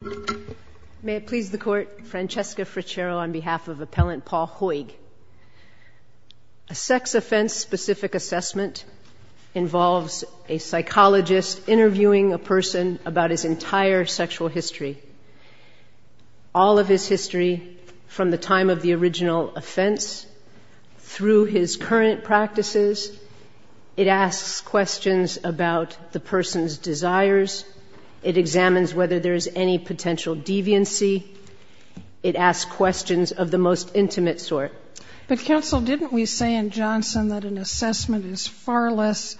A sex offense-specific assessment involves a psychologist interviewing a person about his entire sexual history, all of his history from the time of the original offense through his current practices. It asks questions about the person's desires. It examines whether there is any potential deviancy. It asks questions of the most intimate sort. But, counsel, didn't we say in Johnson that an assessment is far less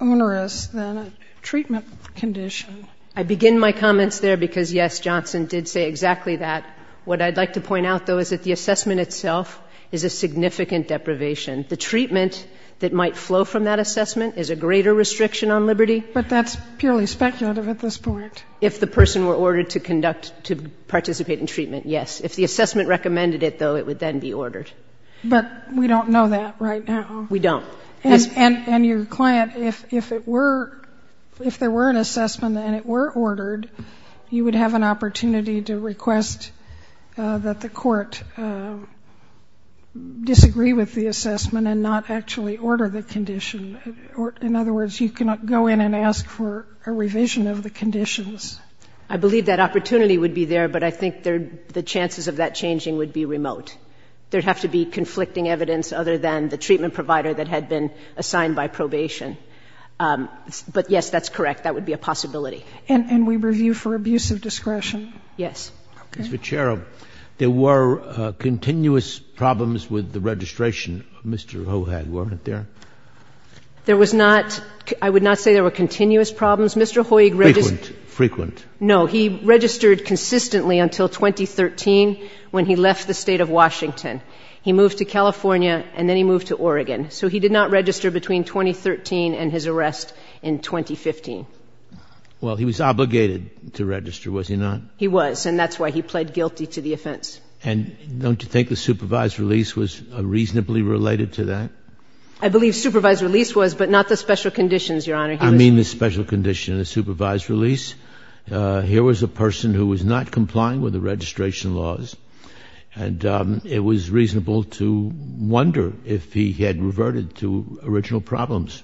onerous than a treatment condition? I begin my comments there because, yes, Johnson did say exactly that. What I'd like to point out, though, is that the assessment itself is a significant deprivation. The treatment that might flow from that assessment is a greater restriction on liberty. But that's purely speculative at this point. If the person were ordered to conduct, to participate in treatment, yes. If the assessment recommended it, though, it would then be ordered. But we don't know that right now. We don't. And your client, if it were, if there were an assessment and it were ordered, you would have an opportunity to request that the court disagree with the assessment and not actually order the condition. In other words, you cannot go in and ask for a revision of the conditions. I believe that opportunity would be there, but I think the chances of that changing would be remote. There would have to be conflicting evidence other than the treatment provider that had been assigned by probation. But, yes, that's correct. That would be a possibility. And we review for abuse of discretion? Yes. Okay. Ms. Vecchero, there were continuous problems with the registration of Mr. Hohag, weren't there? There was not. I would not say there were continuous problems. Mr. Hohag registered. Frequent. Frequent. No, he registered consistently until 2013 when he left the state of Washington. He moved to California, and then he moved to Oregon. So he did not register between 2013 and his arrest in 2015. Well, he was obligated to register, was he not? He was, and that's why he pled guilty to the offense. And don't you think the supervised release was reasonably related to that? I believe supervised release was, but not the special conditions, Your Honor. I mean the special condition, the supervised release. Here was a person who was not complying with the registration laws, and it was reasonable to wonder if he had reverted to original problems.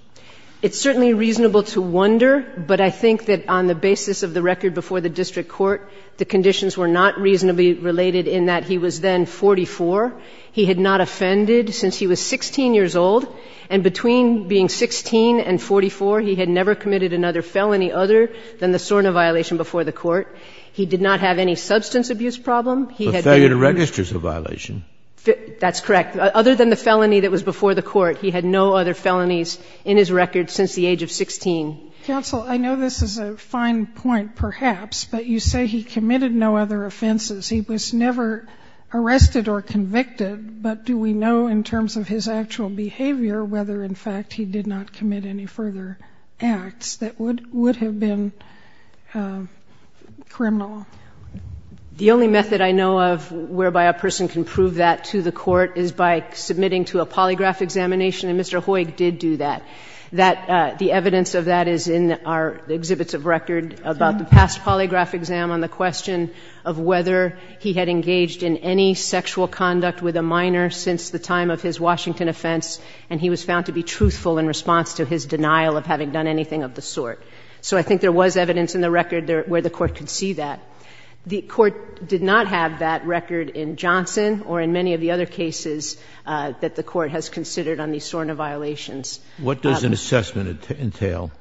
It's certainly reasonable to wonder, but I think that on the basis of the record before the district court, the conditions were not reasonably related in that he was then 44. He had not offended since he was 16 years old, and between being 16 and 44, he had never committed another felony other than the SORNA violation before the court. He did not have any substance abuse problem. He had not. But failure to register is a violation. That's correct. Other than the felony that was before the court, he had no other felonies in his record since the age of 16. Counsel, I know this is a fine point, perhaps, but you say he committed no other offenses. He was never arrested or convicted. But do we know in terms of his actual behavior whether, in fact, he did not commit any further acts that would have been criminal? The only method I know of whereby a person can prove that to the court is by submitting to a polygraph examination, and Mr. Hoyg did do that. The evidence of that is in our exhibits of record about the past polygraph exam on the question of whether he had engaged in any sexual conduct with a minor since the time of his Washington offense, and he was found to be truthful in response to his denial of having done anything of the sort. So I think there was evidence in the record where the court could see that. The court did not have that record in Johnson or in many of the other cases that the court has considered on these SORNA violations. What does an assessment entail?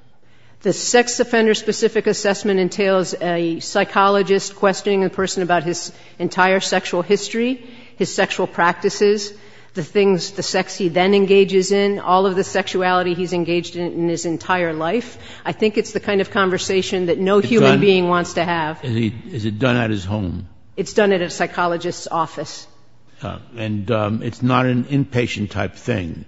The sex offender-specific assessment entails a psychologist questioning a person about his entire sexual history, his sexual practices, the things, the sex he then engages in, all of the sexuality he's engaged in in his entire life. I think it's the kind of conversation that no human being wants to have. Is it done at his home? It's done at a psychologist's office. And it's not an inpatient-type thing?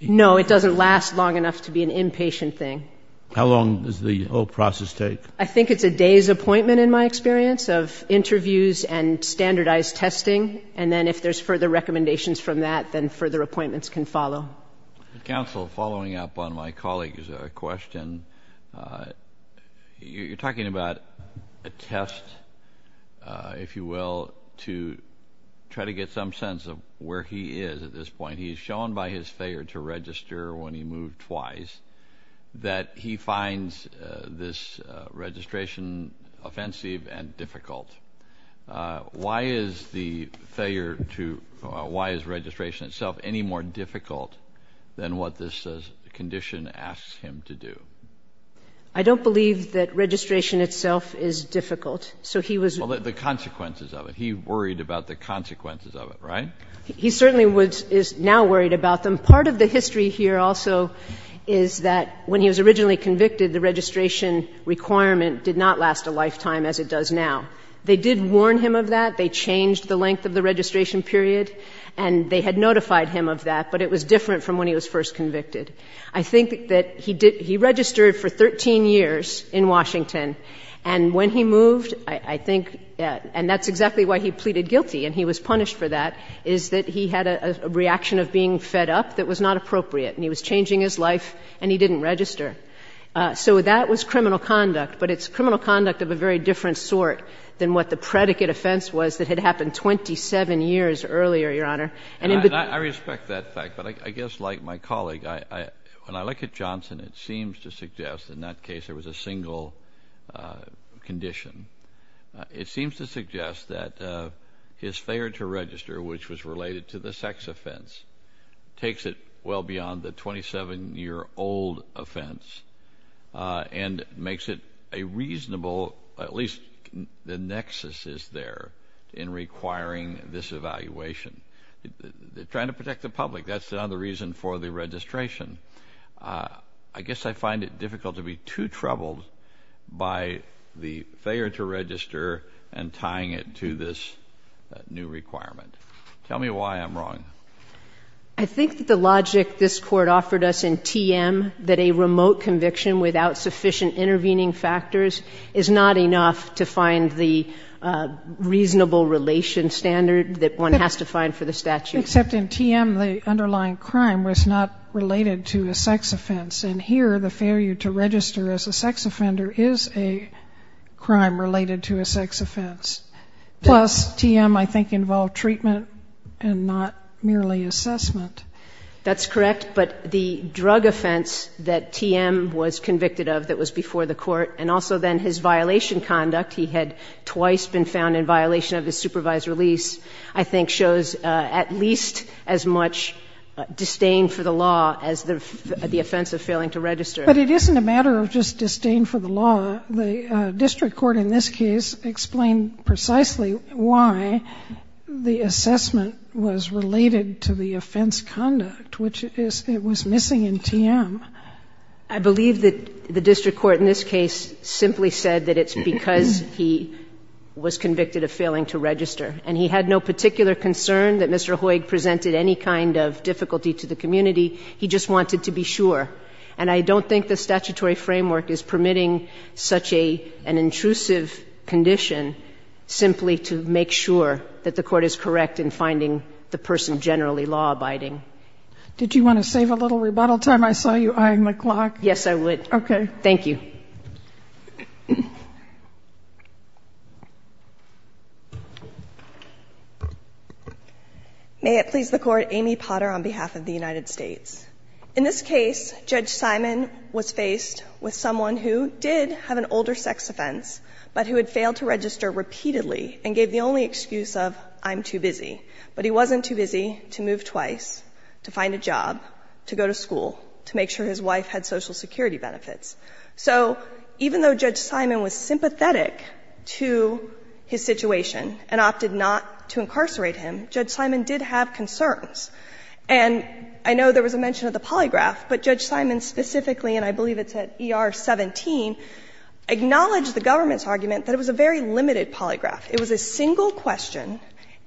No, it doesn't last long enough to be an inpatient thing. How long does the whole process take? I think it's a day's appointment, in my experience, of interviews and standardized testing, and then if there's further recommendations from that, then further appointments can follow. Counsel, following up on my colleague's question, you're talking about a test, if you will, to try to get some sense of where he is at this point. He's shown by his failure to register when he moved twice that he finds this registration offensive and difficult. Why is the failure to why is registration itself any more difficult than what this condition asks him to do? I don't believe that registration itself is difficult. So he was. Well, the consequences of it. He worried about the consequences of it, right? He certainly is now worried about them. Part of the history here also is that when he was originally convicted, the registration requirement did not last a lifetime as it does now. They did warn him of that. They changed the length of the registration period, and they had notified him of that, but it was different from when he was first convicted. I think that he registered for 13 years in Washington, and when he moved, I think, and that's exactly why he pleaded guilty, and he was punished for that, is that he had a reaction of being fed up that was not appropriate, and he was changing his life, and he didn't register. So that was criminal conduct, but it's criminal conduct of a very different sort than what the predicate offense was that had happened 27 years earlier, Your Honor. I respect that fact, but I guess like my colleague, when I look at Johnson, it seems to suggest in that case there was a single condition. It seems to suggest that his failure to register, which was related to the sex offense, takes it well beyond the 27-year-old offense and makes it a reasonable, at least the nexus is there, in requiring this evaluation. They're trying to protect the public. That's another reason for the registration. I guess I find it difficult to be too troubled by the failure to register and tying it to this new requirement. Tell me why I'm wrong. I think that the logic this Court offered us in TM, that a remote conviction without sufficient intervening factors is not enough to find the reasonable relation standard that one has to find for the statute. Except in TM, the underlying crime was not related to a sex offense, and here the failure to register as a sex offender is a crime related to a sex offense. Plus, TM, I think, involved treatment and not merely assessment. That's correct, but the drug offense that TM was convicted of that was before the Court and also then his violation conduct, he had twice been found in violation of his supervised release, I think shows at least as much disdain for the law as the offense of failing to register. But it isn't a matter of just disdain for the law. The district court in this case explained precisely why the assessment was related to the offense conduct, which it was missing in TM. I believe that the district court in this case simply said that it's because he was convicted of failing to register. And he had no particular concern that Mr. Hoyg presented any kind of difficulty to the community. He just wanted to be sure. And I don't think the statutory framework is permitting such an intrusive condition simply to make sure that the Court is correct in finding the person generally law-abiding. Did you want to save a little rebuttal time? I saw you eyeing the clock. Yes, I would. Okay. Thank you. May it please the Court. Amy Potter on behalf of the United States. In this case, Judge Simon was faced with someone who did have an older sex offense, but who had failed to register repeatedly and gave the only excuse of I'm too busy. But he wasn't too busy to move twice, to find a job, to go to school, to make sure his wife had Social Security benefits. So even though Judge Simon was sympathetic to his situation and opted not to incarcerate him, Judge Simon did have concerns. And I know there was a mention of the polygraph, but Judge Simon specifically, and I believe it's at ER 17, acknowledged the government's argument that it was a very limited polygraph. It was a single question,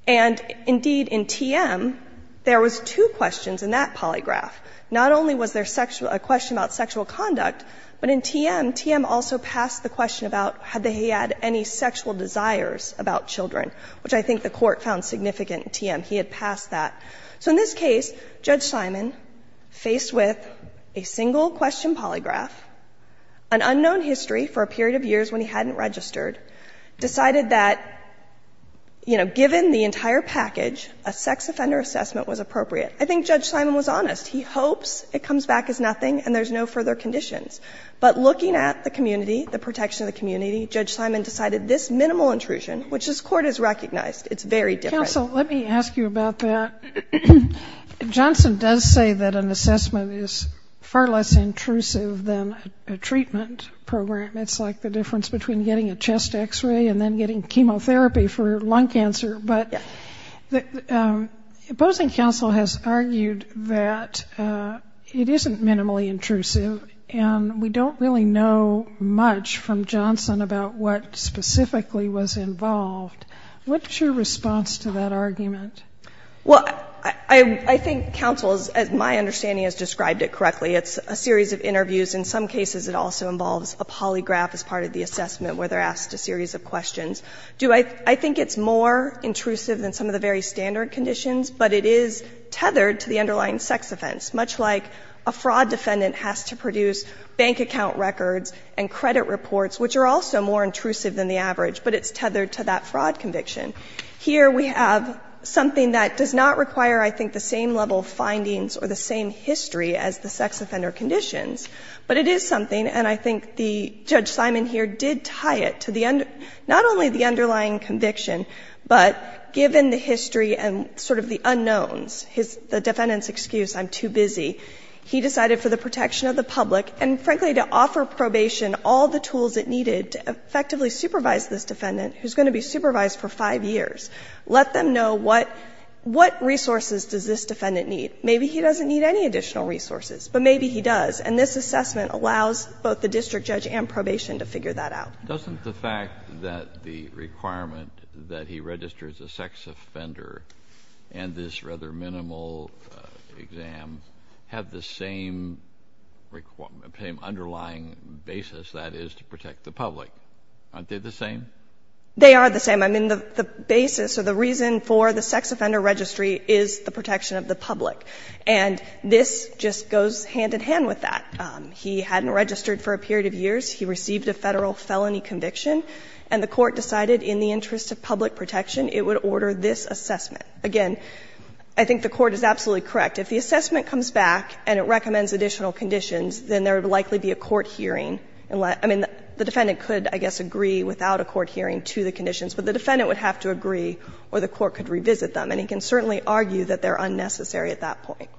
and indeed in TM there was two questions in that polygraph. Not only was there a question about sexual conduct, but in TM, TM also passed the question about had he had any sexual desires about children, which I think the Court found significant in TM. He had passed that. So in this case, Judge Simon, faced with a single question polygraph, an unknown history for a period of years when he hadn't registered, decided that, you know, given the entire package, a sex offender assessment was appropriate. I think Judge Simon was honest. He hopes it comes back as nothing and there's no further conditions. But looking at the community, the protection of the community, Judge Simon decided this minimal intrusion, which this Court has recognized, it's very different. Sotomayor, let me ask you about that. Johnson does say that an assessment is far less intrusive than a treatment program. It's like the difference between getting a chest X-ray and then getting chemotherapy for lung cancer. But the opposing counsel has argued that it isn't minimally intrusive and we don't really know much from Johnson about what specifically was involved. What's your response to that argument? Well, I think counsel, as my understanding has described it correctly, it's a series of interviews. In some cases, it also involves a polygraph as part of the assessment where they're asked a series of questions. I think it's more intrusive than some of the very standard conditions, but it is tethered to the underlying sex offense, much like a fraud defendant has to produce bank account records and credit reports, which are also more intrusive than the average, but it's tethered to that fraud conviction. Here we have something that does not require, I think, the same level of findings or the same history as the sex offender conditions, but it is something, and I think the Judge Simon here did tie it to not only the underlying conviction, but given the history and sort of the unknowns, the defendant's excuse, I'm too busy, he decided for the protection of the public and, frankly, to offer probation all the tools it needed to effectively supervise this defendant, who's going to be supervised for five years, let them know what resources does this defendant need. Maybe he doesn't need any additional resources, but maybe he does. And this assessment allows both the district judge and probation to figure that out. Kennedy. Doesn't the fact that the requirement that he registers a sex offender and this rather minimal exam have the same requirement, same underlying basis, that is, to protect the public? Aren't they the same? They are the same. I mean, the basis or the reason for the sex offender registry is the protection of the public. And this just goes hand in hand with that. He hadn't registered for a period of years. He received a Federal felony conviction, and the Court decided in the interest of public protection it would order this assessment. Again, I think the Court is absolutely correct. If the assessment comes back and it recommends additional conditions, then there would likely be a court hearing. I mean, the defendant could, I guess, agree without a court hearing to the conditions, but the defendant would have to agree or the Court could revisit them. And he can certainly argue that they are unnecessary at that point.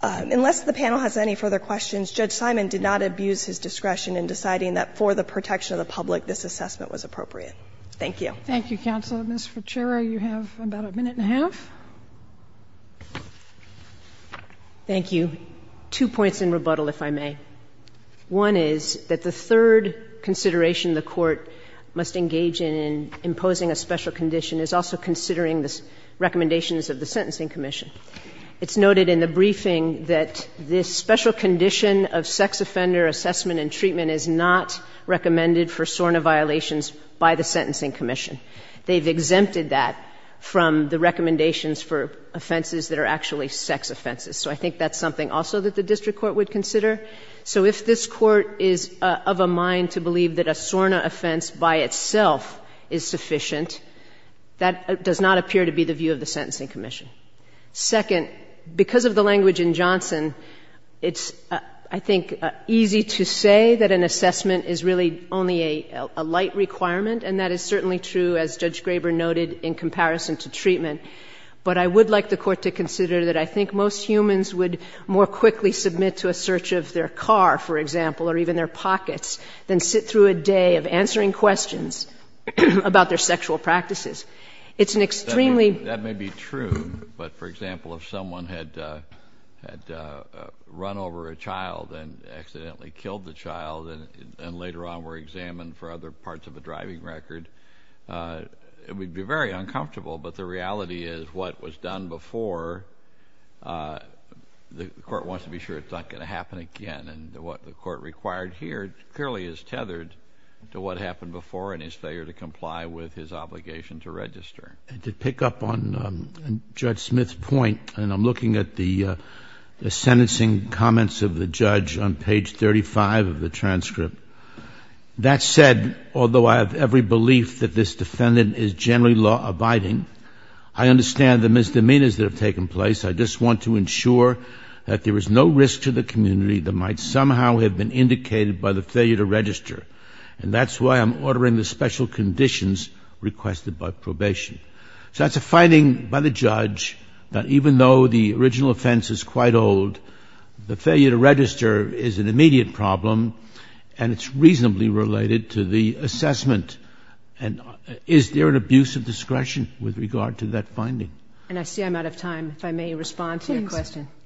Unless the panel has any further questions, Judge Simon did not abuse his discretion in deciding that for the protection of the public this assessment was appropriate. Thank you. Thank you, Counsel. Ms. Ferchero, you have about a minute and a half. Thank you. Two points in rebuttal, if I may. One is that the third consideration the Court must engage in in imposing a special condition is also considering the recommendations of the Sentencing Commission. It's noted in the briefing that this special condition of sex offender assessment and treatment is not recommended for SORNA violations by the Sentencing Commission. They've exempted that from the recommendations for offenses that are actually sex offenses. So I think that's something also that the District Court would consider. So if this Court is of a mind to believe that a SORNA offense by itself is sufficient, that does not appear to be the view of the Sentencing Commission. Second, because of the language in Johnson, it's, I think, easy to say that an assessment is really only a light requirement, and that is certainly true, as Judge Graber noted, in comparison to treatment. But I would like the Court to consider that I think most humans would more quickly submit to a search of their car, for example, or even their pockets, than sit through a day of answering questions about their sexual practices. It's an extremely... That may be true, but, for example, if someone had run over a child and accidentally killed the child and later on were examined for other parts of a driving record, it would be very uncomfortable. But the reality is what was done before, the Court wants to be sure it's not going to happen again. And what the Court required here clearly is tethered to what happened before and his failure to comply with his obligation to register. And to pick up on Judge Smith's point, and I'm looking at the sentencing comments of the judge on page 35 of the transcript. That said, although I have every belief that this defendant is generally law-abiding, I understand the misdemeanors that have taken place. I just want to ensure that there is no risk to the community that might somehow have been indicated by the failure to register. And that's why I'm ordering the special conditions requested by probation. So that's a finding by the judge that even though the original offense is quite old, the failure to register is an immediate problem and it's reasonably related to the assessment. And is there an abuse of discretion with regard to that finding? And I see I'm out of time. If I may respond to your question. Please.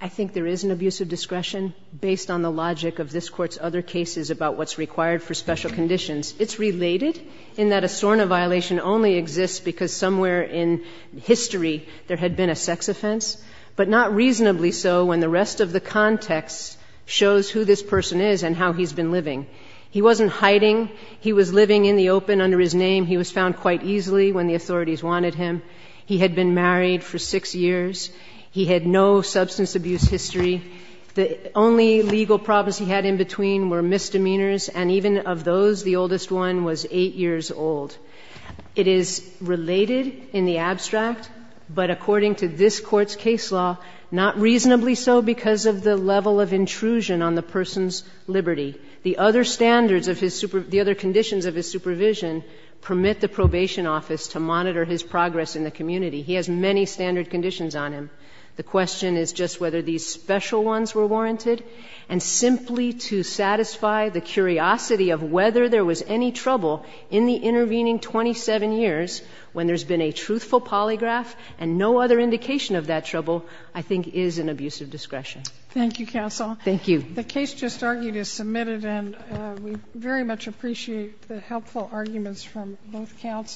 I think there is an abuse of discretion based on the logic of this Court's other cases about what's required for special conditions. It's related in that a SORNA violation only exists because somewhere in history there had been a sex offense, but not reasonably so when the rest of the context shows who this person is and how he's been living. He wasn't hiding. He was living in the open under his name. He was found quite easily when the authorities wanted him. He had been married for six years. He had no substance abuse history. The only legal problems he had in between were misdemeanors, and even of those, the oldest one was eight years old. It is related in the abstract, but according to this Court's case law, not reasonably so because of the level of intrusion on the person's liberty. The other standards of his supervision, the other conditions of his supervision permit the probation office to monitor his progress in the community. He has many standard conditions on him. The question is just whether these special ones were warranted. And simply to satisfy the curiosity of whether there was any trouble in the intervening 27 years when there's been a truthful polygraph and no other indication of that trouble, I think is an abuse of discretion. Thank you, Counsel. Thank you. The case just argued is submitted, and we very much appreciate the helpful arguments from both counsels.